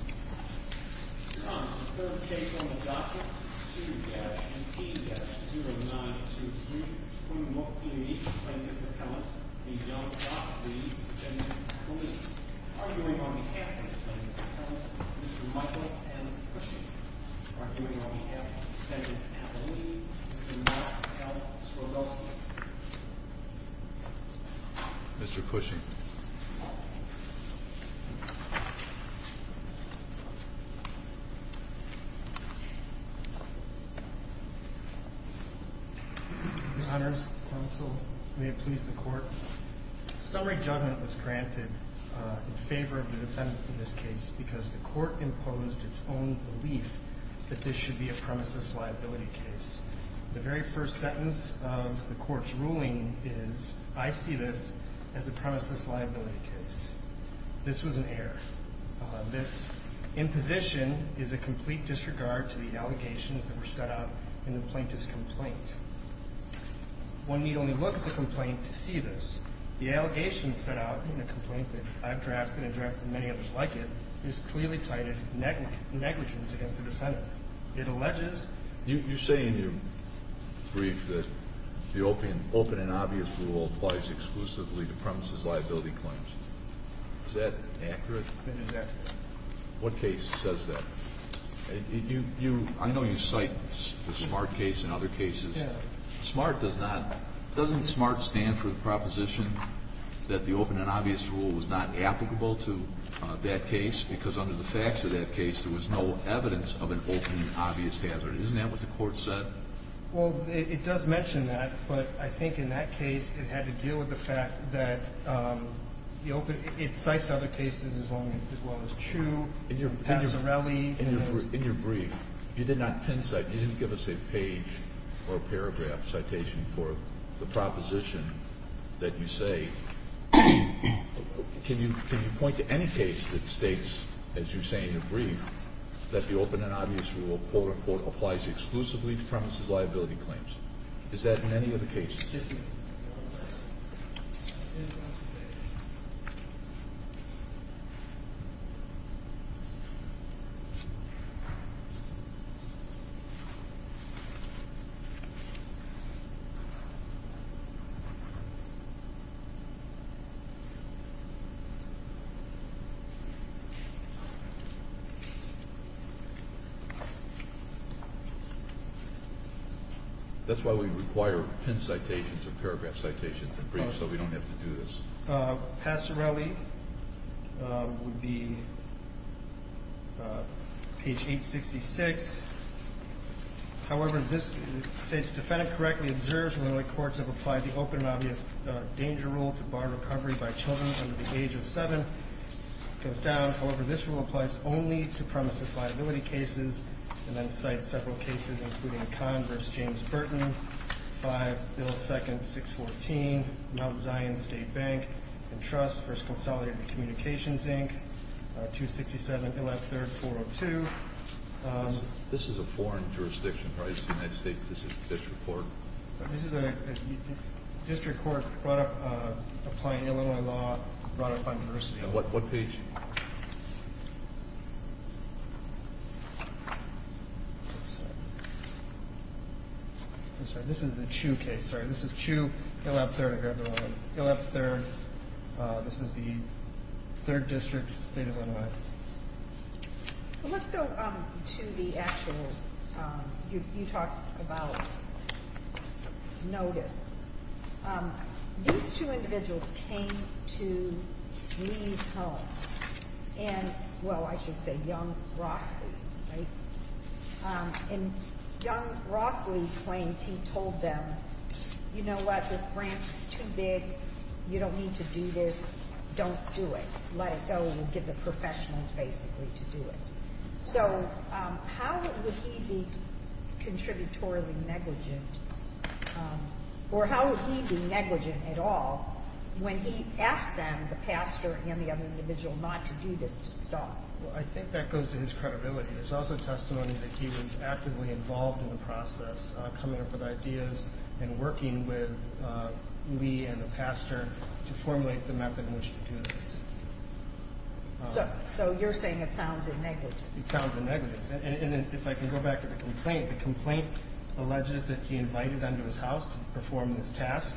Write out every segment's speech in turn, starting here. Mr. Thomas, the third case on the docket, 2-18-0923, when what the plaintiff appellant, the young doctor, the defendant appellee, arguing on behalf of the plaintiff appellant, Mr. Michael M. Cushing, arguing on behalf of the defendant appellee, the young appellant, Mr. Russell. Mr. Cushing. Your honors, counsel, may it please the court. Summary judgment was granted in favor of the defendant in this case because the court imposed its own belief that this should be a premises liability case. The very first sentence of the court's ruling is, I see this as a premises liability case. This was an error. This imposition is a complete disregard to the allegations that were set out in the plaintiff's complaint. One need only look at the complaint to see this. The allegation set out in the complaint that I've drafted and drafted and many others like it, is clearly titled negligence against the defendant. It alleges... You say in your brief that the open and obvious rule applies exclusively to premises liability claims. Is that accurate? It is accurate. What case says that? I know you cite the SMART case and other cases. SMART does not... Doesn't SMART stand for the proposition that the open and obvious rule was not applicable to that case because under the facts of that case there was no evidence of an open and obvious hazard? Isn't that what the court said? Well, it does mention that, but I think in that case it had to deal with the fact that the open... It cites other cases as well as Chu, Passarelli. In your brief, you did not pincite. You didn't give us a page or a paragraph citation for the proposition that you say. Can you point to any case that states, as you say in your brief, that the open and obvious rule applies exclusively to premises liability claims? Is that in any of the cases? Yes, Your Honor. That's why we require pincitations or paragraph citations in brief so we don't have to do this. Passarelli would be page 866. However, this states, Defendant correctly observes when the courts have applied the open and obvious danger rule to bar recovery by children under the age of 7. It goes down. However, this rule applies only to premises liability cases and then cites several cases, including Converse, James Burton, 5, Bill 2, 614, Mount Zion State Bank and Trust, First Consolidated Communications, Inc., 267, 113, 402. This is a foreign jurisdiction, right? It's the United States District Court. This is a district court applying Illinois law brought up by University. What page? I'm sorry. This is the Chu case. Sorry. This is Chu. He'll have third. I grabbed the wrong one. He'll have third. This is the third district, State of Illinois. Let's go to the actual. You talked about notice. These two individuals came to Lee's home. And, well, I should say Young-Rockley, right? And Young-Rockley claims he told them, you know what? This branch is too big. You don't need to do this. Don't do it. Let it go, and we'll give the professionals basically to do it. So how would he be contributorily negligent, or how would he be negligent at all when he asked them, the pastor and the other individual, not to do this to stop? Well, I think that goes to his credibility. There's also testimony that he was actively involved in the process, coming up with ideas and working with Lee and the pastor to formulate the method in which to do this. So you're saying it sounds negligent. It sounds negligent. And if I can go back to the complaint, the complaint alleges that he invited them to his house to perform this task,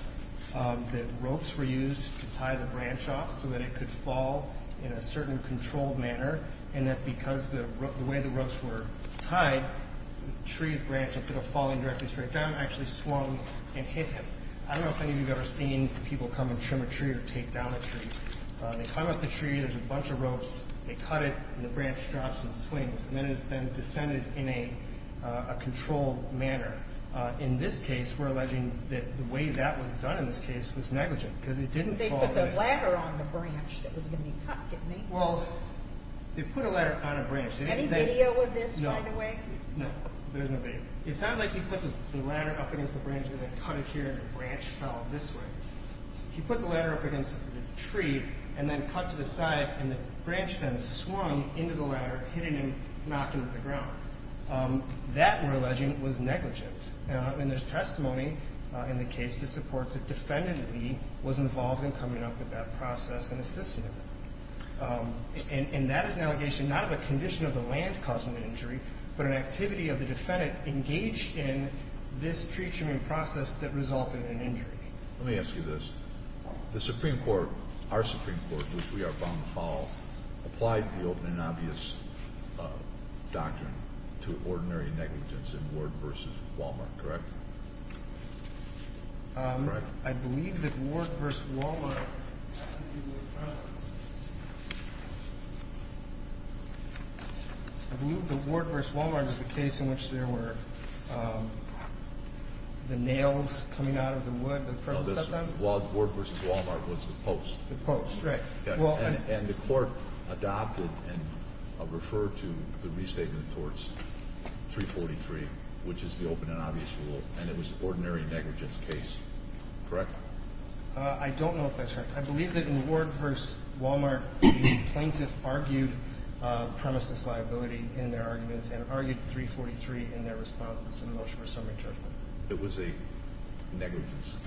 that ropes were used to tie the branch off so that it could fall in a certain controlled manner, and that because the way the ropes were tied, the tree branch, instead of falling directly straight down, actually swung and hit him. I don't know if any of you have ever seen people come and trim a tree or take down a tree. They come up the tree, there's a bunch of ropes, they cut it, and the branch drops and swings, and then it's then descended in a controlled manner. In this case, we're alleging that the way that was done in this case was negligent because it didn't fall away. They put the ladder on the branch that was going to be cut, didn't they? Well, they put a ladder on a branch. Any video of this, by the way? No, there's no video. It sounded like he put the ladder up against the branch and then cut it here and the branch fell this way. He put the ladder up against the tree and then cut to the side, and the branch then swung into the ladder, hitting him, knocking him to the ground. That, we're alleging, was negligent. And there's testimony in the case to support that defendant Lee was involved in coming up with that process and assisting him. And that is an allegation not of a condition of the land causing the injury, but an activity of the defendant engaged in this tree trimming process that resulted in injury. Let me ask you this. The Supreme Court, our Supreme Court, which we are bound to follow, applied the open and obvious doctrine to ordinary negligence in Ward v. Wal-Mart, correct? Correct? I believe that Ward v. Wal-Mart was the case in which there were the nails coming out of the wood and the nail was working and it was an act of negligence. No, no. The word versus Wal-Mart was the post. The post, right. And the court adopted and referred to the restatement of torts, 343, which is the open and obvious rule, and it was an ordinary negligence case, correct? I don't know if that's correct. I believe that in Ward v. Wal-Mart the plaintiff argued premises liability in their arguments and argued 343 in their responses to the motion for a summary judgment. It was a negligence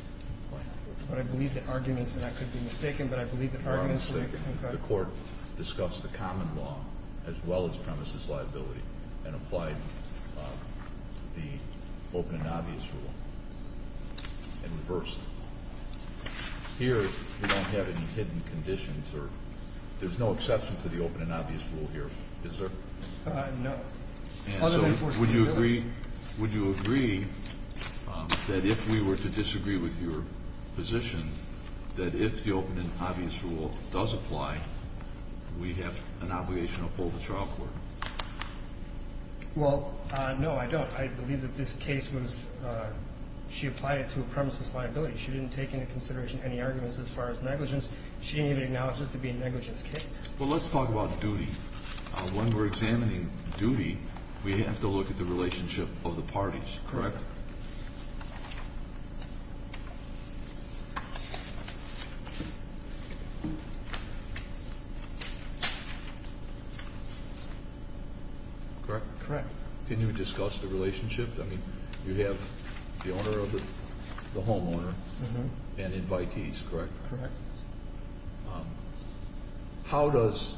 claim. But I believe the arguments, and I could be mistaken, but I believe the arguments were concurred. The court discussed the common law as well as premises liability and applied the open and obvious rule in reverse. Here we don't have any hidden conditions. There's no exception to the open and obvious rule here, is there? No. And so would you agree that if we were to disagree with your position, that if the open and obvious rule does apply, we have an obligation to uphold the trial court? Well, no, I don't. I believe that this case was she applied it to a premises liability. She didn't take into consideration any arguments as far as negligence. She didn't even acknowledge it to be a negligence case. Well, let's talk about duty. When we're examining duty, we have to look at the relationship of the parties, correct? Correct. Can you discuss the relationship? I mean, you have the owner of the homeowner and invitees, correct? Correct. How does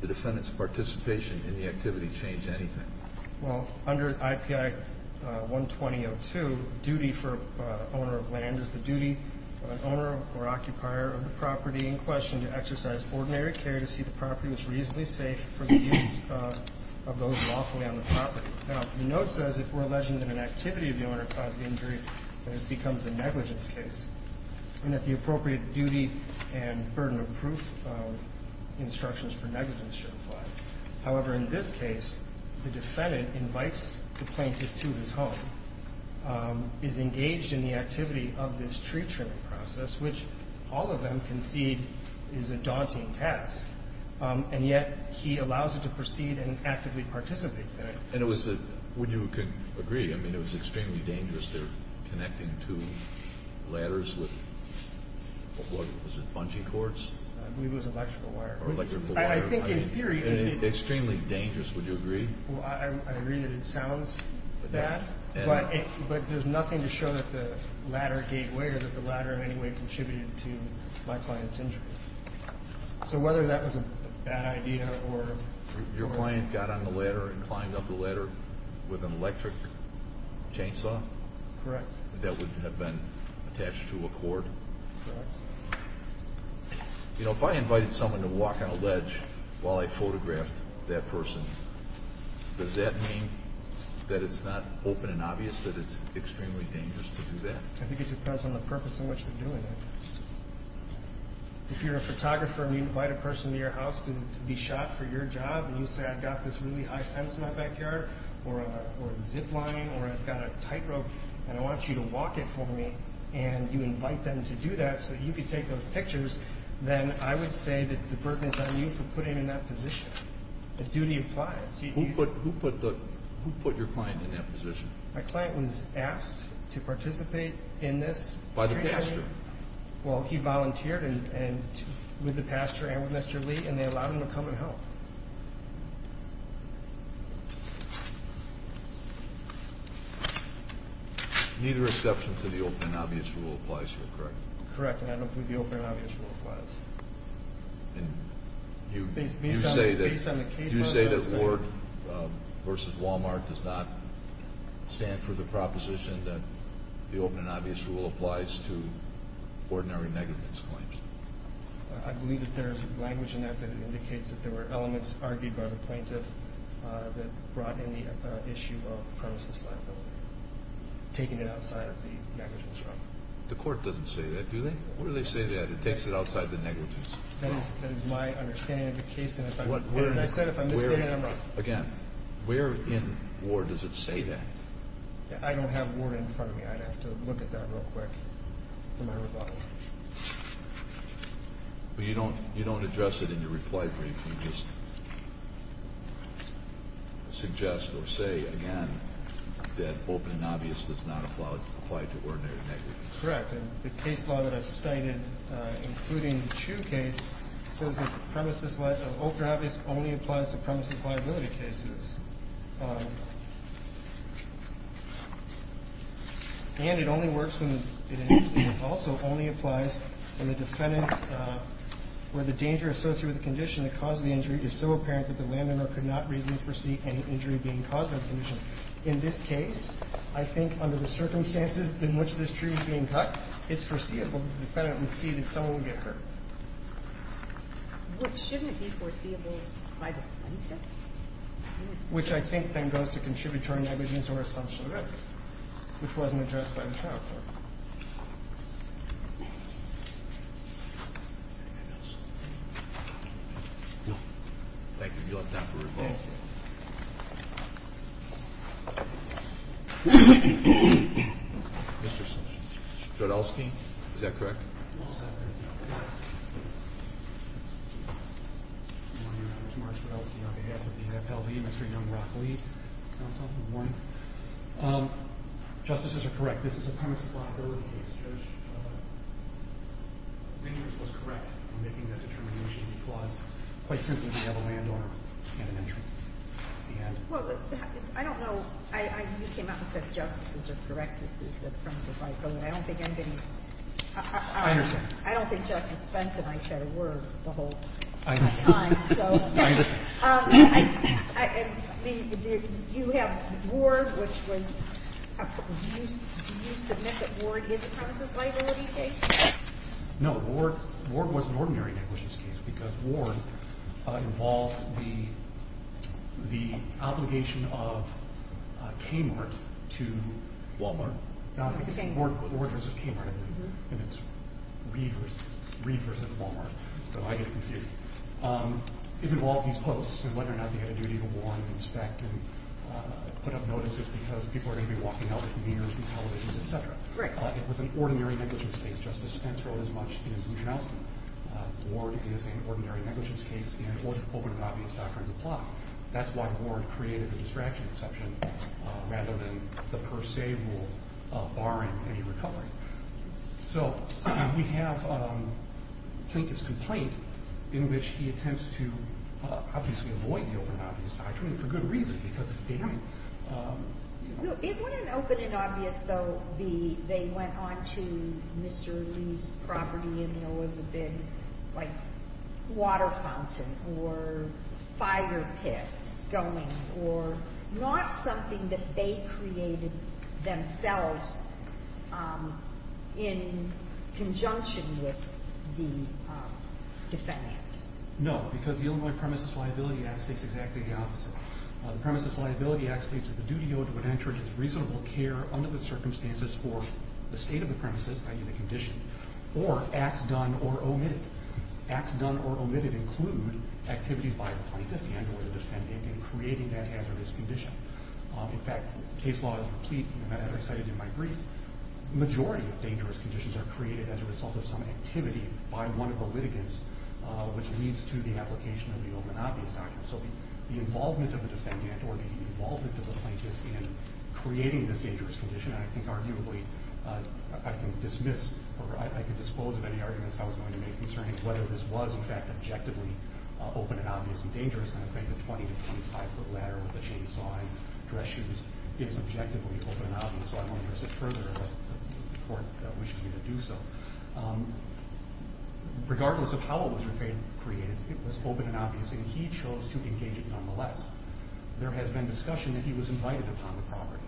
the defendant's participation in the activity change anything? Well, under IPI 120.02, duty for owner of land is the duty of an owner or occupier of the property in question to exercise ordinary care to see the property is reasonably safe for the use of those lawfully on the property. Now, the note says if we're alleging that an activity of the owner caused the injury, then it becomes a negligence case. And that the appropriate duty and burden of proof instructions for negligence should apply. However, in this case, the defendant invites the plaintiff to his home, is engaged in the activity of this tree trimming process, which all of them concede is a daunting task, and yet he allows it to proceed and actively participates in it. And it was a – would you agree? I mean, it was extremely dangerous. They're connecting two ladders with – what was it, bungee cords? I believe it was electrical wire. Or electrical wire. I think in theory – Extremely dangerous, would you agree? Well, I agree that it sounds bad, but there's nothing to show that the ladder gave way or that the ladder in any way contributed to my client's injury. So whether that was a bad idea or – Your client got on the ladder and climbed up the ladder with an electric chainsaw? Correct. That would have been attached to a cord? Correct. You know, if I invited someone to walk on a ledge while I photographed that person, does that mean that it's not open and obvious that it's extremely dangerous to do that? I think it depends on the purpose in which they're doing it. If you're a photographer and you invite a person to your house to be shot for your job and you say I've got this really high fence in my backyard or a zip line or I've got a tightrope and I want you to walk it for me and you invite them to do that so you can take those pictures, then I would say that the burden is on you for putting them in that position. The duty applies. Who put your client in that position? My client was asked to participate in this. By the pastor? Well, he volunteered with the pastor and with Mr. Lee, and they allowed him to come and help. Neither exception to the open and obvious rule applies here, correct? Correct, and I don't believe the open and obvious rule applies. And you say that Ward versus Walmart does not stand for the proposition that the open and obvious rule applies to ordinary negligence claims? I believe that there is language in that that indicates that there were elements argued by the plaintiff that brought in the issue of premises liability, taking it outside of the negligence realm. The court doesn't say that, do they? What do they say? It takes it outside the negligence realm. That is my understanding of the case, and as I said, if I'm misstating it, I'm wrong. Again, where in Ward does it say that? I don't have Ward in front of me. I'd have to look at that real quick for my rebuttal. But you don't address it in your reply brief. You just suggest or say, again, that open and obvious does not apply to ordinary negligence. Correct, and the case law that I've cited, including the Chu case, says that open and obvious only applies to premises liability cases. And it only works when it also only applies when the defendant, where the danger associated with the condition that caused the injury is so apparent that the landowner could not reasonably foresee any injury being caused by the condition. In this case, I think under the circumstances in which this tree was being cut, it's foreseeable that the defendant would see that someone would get hurt. Well, shouldn't it be foreseeable by the plaintiff? Which I think then goes to contributory negligence or assumption of rights, which wasn't addressed by the trial court. Thank you. Thank you. You're up now for rebuttal. Mr. Strudelsky? Is that correct? Yes, that's correct. I'm Mark Strudelsky on behalf of the FLB, Mr. Young-Rockley. Counsel, good morning. Justices are correct. This is a premises liability case. Judge Minors was correct in making that determination. He flaws quite simply the yellow landowner and an entry. Well, I don't know. You came out and said justices are correct. This is a premises liability. I don't think anybody's – I understand. I don't think Justice Spence and I said a word the whole time. You have Ward, which was – do you submit that Ward is a premises liability case? No. Ward was an ordinary negligence case because Ward involved the obligation of Kmart to Walmart. Ward was a Kmart employee, and it's Reeve versus Walmart, so I get confused. It involved these posts and whether or not they had a duty to warn and inspect and put up notices because people are going to be walking out with mirrors and televisions, et cetera. It was an ordinary negligence case. Justice Spence wrote as much in his New Charleston. Ward is an ordinary negligence case, and Ward's open and obvious doctrines apply. That's why Ward created the distraction exception rather than the per se rule barring any recovery. So we have Plinkett's complaint in which he attempts to obviously avoid the open and obvious doctrine for good reason because it's damning. It wouldn't open and obvious, though, be they went on to Mr. Lee's property and there was a big, like, water fountain or fire pit going, or not something that they created themselves in conjunction with the Defendant. No, because the Illinois Premises Liability Act states exactly the opposite. The Premises Liability Act states that the duty owed to an entrant is reasonable care under the circumstances for the state of the premises, i.e., the condition, or acts done or omitted. Acts done or omitted include activities by the Plaintiff and or the Defendant in creating that hazardous condition. In fact, case law is complete. As I cited in my brief, the majority of dangerous conditions are created as a result of some activity by one of the litigants, which leads to the application of the open and obvious doctrine. So the involvement of the Defendant or the involvement of the Plaintiff in creating this dangerous condition, and I think arguably I can dismiss or I can disclose of any arguments I was going to make concerning whether this was, in fact, objectively open and obvious and dangerous. And I think a 20- to 25-foot ladder with a chainsaw and dress shoes is objectively open and obvious, so I won't address it further unless the Court wishes me to do so. Regardless of how it was created, it was open and obvious, He didn't come to the property to do anything. He chose to engage it nonetheless. There has been discussion that he was invited upon the property.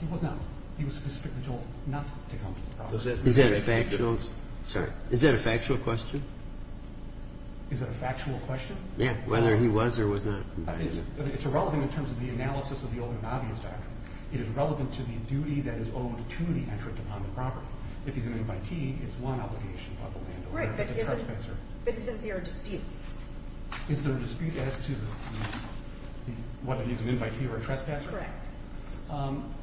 He was not. He was specifically told not to come to the property. He's not a factual. Sorry. Is that a factual question? Is that a factual question? Whether he was or was not invited. It's irrelevant in terms of the analysis of the Old and Obvious Doctrine. It is relevant to the duty that is owed to the entrant upon the property. If he's an invitee, it's one obligation upon the landowner as a trespasser. Right, but isn't there a dispute? Is there a dispute as to whether he's an invitee or a trespasser?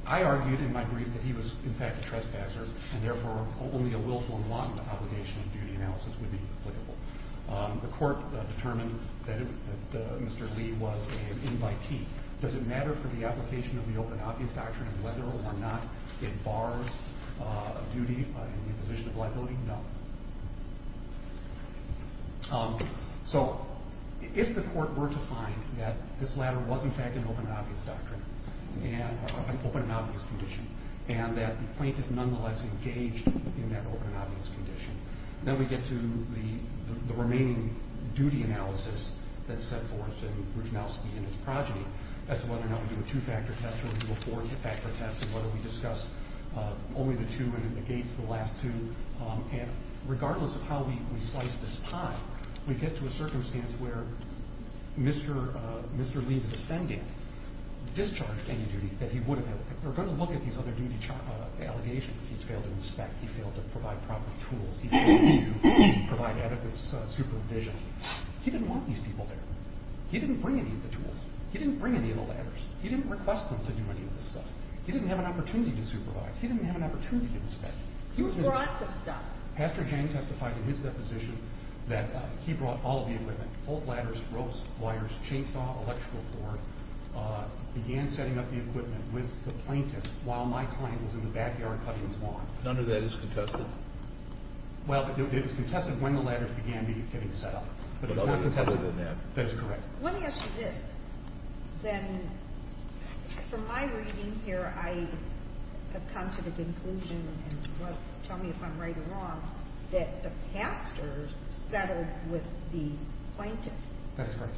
I argued in my brief that he was, in fact, a trespasser, and therefore only a willful and wanton obligation of duty analysis would be applicable. The court determined that Mr. Lee was an invitee. Does it matter for the application of the Open and Obvious Doctrine whether or not it bars duty in the imposition of liability? No. So if the court were to find that this latter was, in fact, an Open and Obvious Doctrine, an Open and Obvious Condition, and that the plaintiff nonetheless engaged in that Open and Obvious Condition, then we get to the remaining duty analysis that's set forth in Rudnowski and his progeny as to whether or not we do a two-factor test, whether we do a four-factor test, and whether we discuss only the two and against the last two. And regardless of how we slice this pie, we get to a circumstance where Mr. Lee, the defendant, discharged any duty that he would have had. We're going to look at these other duty allegations. He failed to inspect. He failed to provide proper tools. He failed to provide adequate supervision. He didn't want these people there. He didn't bring any of the tools. He didn't bring any of the ladders. He didn't request them to do any of this stuff. He didn't have an opportunity to supervise. He didn't have an opportunity to inspect. He was brought the stuff. Pastor Jang testified in his deposition that he brought all of the equipment, both ladders, ropes, wires, chainsaw, electrical cord, began setting up the equipment with the plaintiff while my client was in the backyard cutting his lawn. None of that is contested? Well, it was contested when the ladders began getting set up. But it's not contested. That is correct. Let me ask you this. Then from my reading here, I have come to the conclusion, and tell me if I'm right or wrong, that the pastor settled with the plaintiff. That is correct.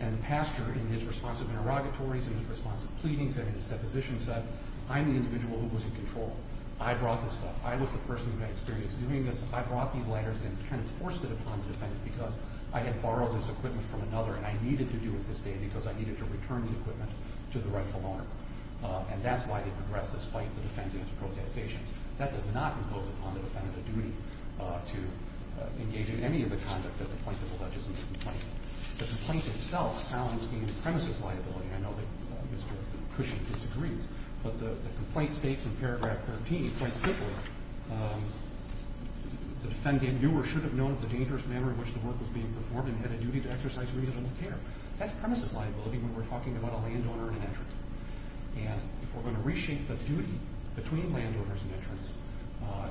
And the pastor, in his response of interrogatories, in his response of pleadings and in his deposition, said, I'm the individual who was in control. I brought this stuff. I was the person who had experience doing this. I brought these ladders and kind of forced it upon the defendant because I had borrowed this equipment from another, and I needed to do with this data because I needed to return the equipment to the rightful owner. And that's why they progressed this fight. The defendant has a protestation. That does not impose upon the defendant a duty to engage in any of the conduct that the plaintiff alleges in this complaint. The complaint itself sounds to me premises liability. I know that Mr. Cushing disagrees. But the complaint states in paragraph 13, quite simply, the defendant knew or should have known of the dangerous manner in which the work was being performed and had a duty to exercise reasonable care. That's premises liability when we're talking about a landowner and an entrant. And if we're going to reshape the duty between landowners and entrants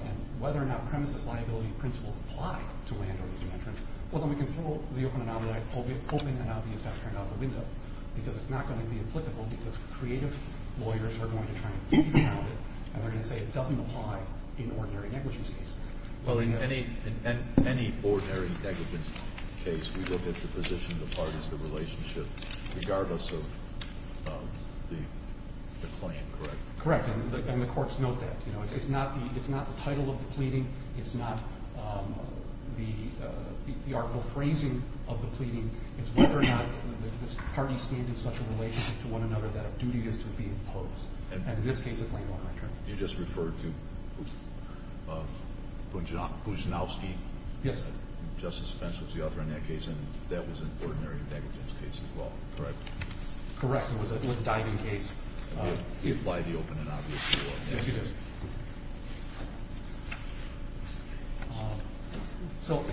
and whether or not premises liability principles apply to landowners and entrants, well, then we can throw the open and obvious doctrine out the window because it's not going to be applicable because creative lawyers are going to try and keep count of it, and they're going to say it doesn't apply in ordinary negligence cases. Well, in any ordinary negligence case, we look at the position of the parties, the relationship, regardless of the claim, correct? Correct. And the courts note that. It's not the title of the pleading. It's not the article phrasing of the pleading. It's whether or not the parties stand in such a relationship to one another that a duty is to be imposed. And in this case, it's landowner and entrant. You just referred to Kuznowski. Yes, I did. Justice Fentz was the author in that case, and that was an ordinary negligence case as well, correct? Correct. It was a diving case. Do you apply the open and obvious? Yes, you do. So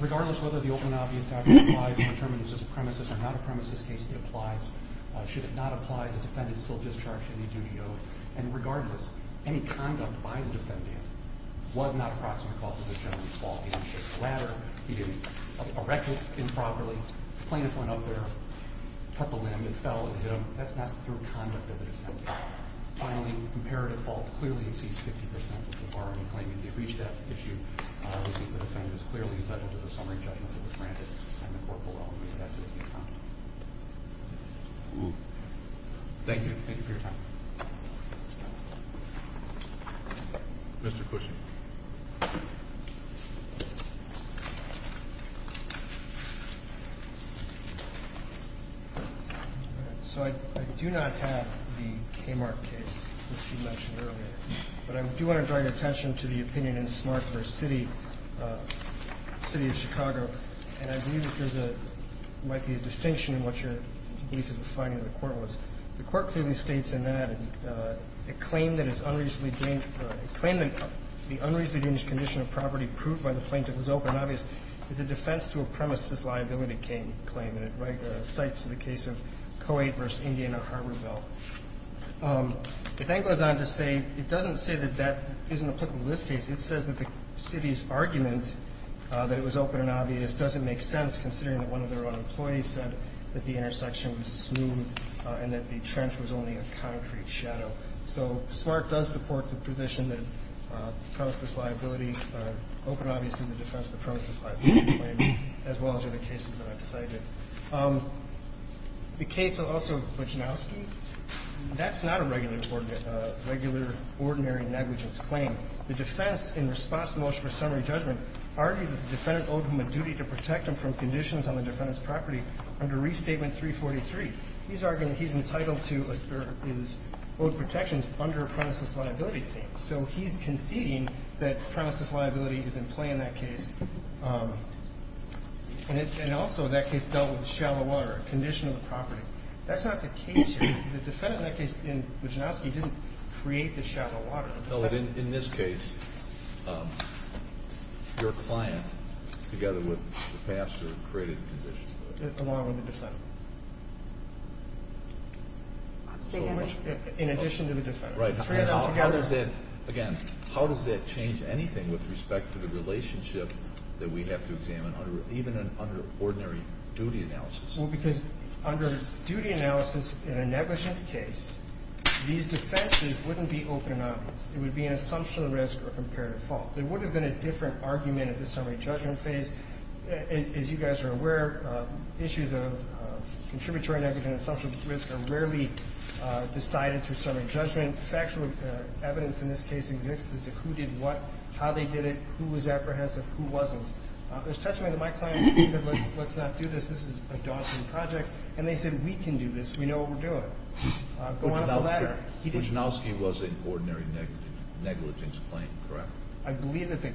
regardless of whether the open and obvious document applies and determines it's a premises or not a premises case, it applies. Should it not apply, the defendant is still discharged any duty owed. And regardless, any conduct by the defendant was not a proximate cause of this gentleman's fault. He didn't shake the ladder. He didn't erect it improperly. The plaintiff went up there, cut the limb. It fell and hit him. That's not through conduct of the defendant. Finally, imperative fault clearly exceeds 50% of the bar in the claim. If you reach that issue, I would think the defendant is clearly entitled to the summary judgment that was granted in the court below. Thank you. Thank you for your time. Mr. Cushing. So I do not have the Kmart case that you mentioned earlier, but I do want to draw your attention to the opinion in Smart v. City of Chicago, and I believe that there might be a distinction in what your belief in the finding of the court was. The court clearly states in that a claim that is unreasonably dangerous condition of property proved by the plaintiff was open and obvious is a defense to a premises liability claim, and it cites the case of Co-Aid v. Indian or Harborville. The thing goes on to say, it doesn't say that that isn't applicable to this case. It says that the city's argument that it was open and obvious doesn't make sense, considering that one of their own employees said that the intersection was smooth and that the trench was only a concrete shadow. So Smart does support the position that premises liability, open and obvious is a defense to a premises liability claim, as well as the other cases that I've cited. The case also of Budzinawski, that's not a regular ordinary negligence claim. The defense, in response to the motion for summary judgment, argued that the defendant owed him a duty to protect him from conditions on the defendant's property under Restatement 343. He's arguing he's entitled to his owed protections under a premises liability claim. So he's conceding that premises liability is in play in that case, and also that case dealt with shallow water, a condition of the property. That's not the case here. The defendant in that case, in Budzinawski, didn't create the shallow water. In this case, your client, together with the pastor, created the condition. Along with the defendant. So much. In addition to the defendant. Right. Again, how does that change anything with respect to the relationship that we have to examine, even under ordinary duty analysis? Well, because under duty analysis in a negligence case, these defenses wouldn't be open and obvious. It would be an assumption of risk or comparative fault. There would have been a different argument at the summary judgment phase. As you guys are aware, issues of contributory negligence and assumption of risk are rarely decided through summary judgment. Factual evidence in this case exists as to who did what, how they did it, who was apprehensive, who wasn't. There's testimony that my client said, let's not do this. This is a daunting project. And they said, we can do this. We know what we're doing. Budzinawski was an ordinary negligence claim, correct? I believe that the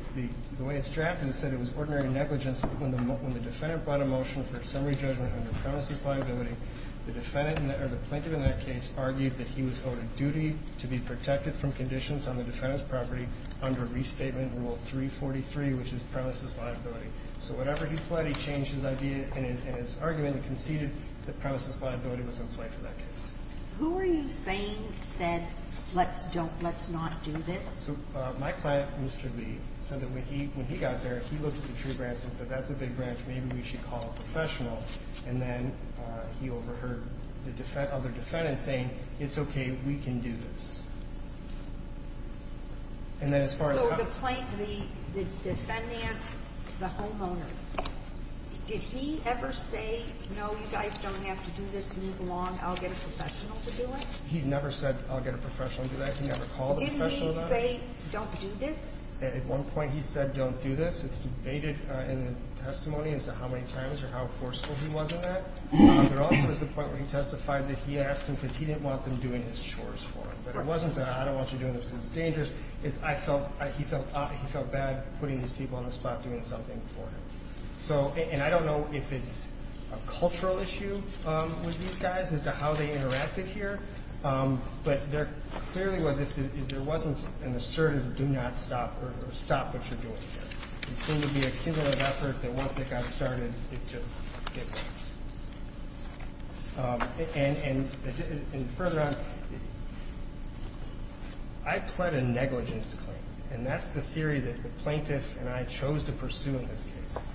way it's drafted, it said it was ordinary negligence. When the defendant brought a motion for summary judgment under premises liability, the plaintiff in that case argued that he was owed a duty to be protected from conditions on the defendant's property under restatement rule 343, which is premises liability. So whatever he pled, he changed his idea in his argument and conceded that premises liability was in play for that case. Who were you saying said, let's not do this? So my client, Mr. Lee, said that when he got there, he looked at the tree branch and said, that's a big branch. Maybe we should call a professional. And then he overheard the other defendants saying, it's okay. We can do this. And then as far as the plaintiff, the defendant, the homeowner, did he ever say, no, you guys don't have to do this. Move along. I'll get a professional to do it. He's never said, I'll get a professional to do that. Didn't he say, don't do this? At one point he said, don't do this. It's debated in the testimony as to how many times or how forceful he was in that. There also is the point where he testified that he asked him because he didn't want them doing his chores for him. But it wasn't, I don't want you doing this because it's dangerous. It's, I felt, he felt, he felt bad putting these people on the spot doing something for him. So, and I don't know if it's a cultural issue with these guys as to how they interacted here. But there clearly was, if there wasn't an assertive do not stop or stop what you're doing here. It seemed to be a cumulative effort that once it got started, it just didn't work. And further on, I pled a negligence claim. And that's the theory that the plaintiff and I chose to pursue in this case.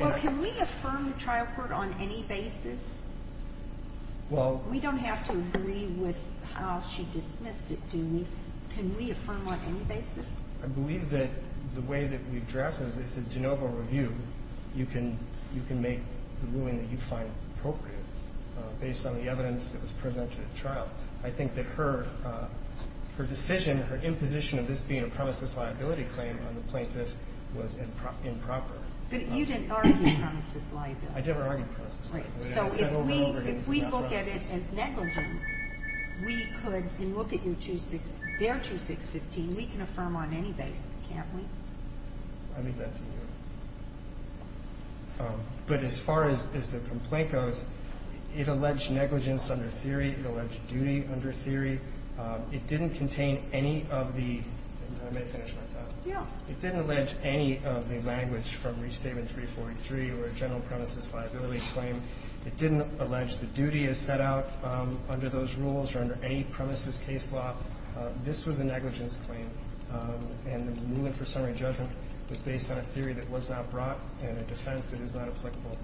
Well, can we affirm the trial court on any basis? Well. We don't have to agree with how she dismissed it, do we? Can we affirm on any basis? I believe that the way that we've drafted it, it's a de novo review. You can make the ruling that you find appropriate based on the evidence that was presented at trial. I think that her decision, her imposition of this being a premises liability claim on the plaintiff was improper. I never argued premises liability. Right. So, if we look at it as negligence, we could, and look at their 2615, we can affirm on any basis, can't we? I mean that too. But as far as the complaint goes, it alleged negligence under theory. It alleged duty under theory. It didn't contain any of the, I may finish my thought. Yeah. It didn't allege any of the language from Restatement 343 or a general premises liability claim. It didn't allege the duty as set out under those rules or under any premises case law. This was a negligence claim. And the ruling for summary judgment was based on a theory that was not brought and a defense that is not applicable.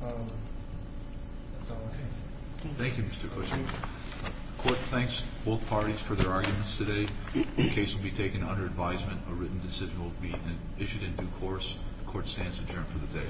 That's all I can say. Thank you, Mr. Cushing. The Court thanks both parties for their arguments today. The case will be taken under advisement. A written decision will be issued in due course. The Court stands adjourned for the day.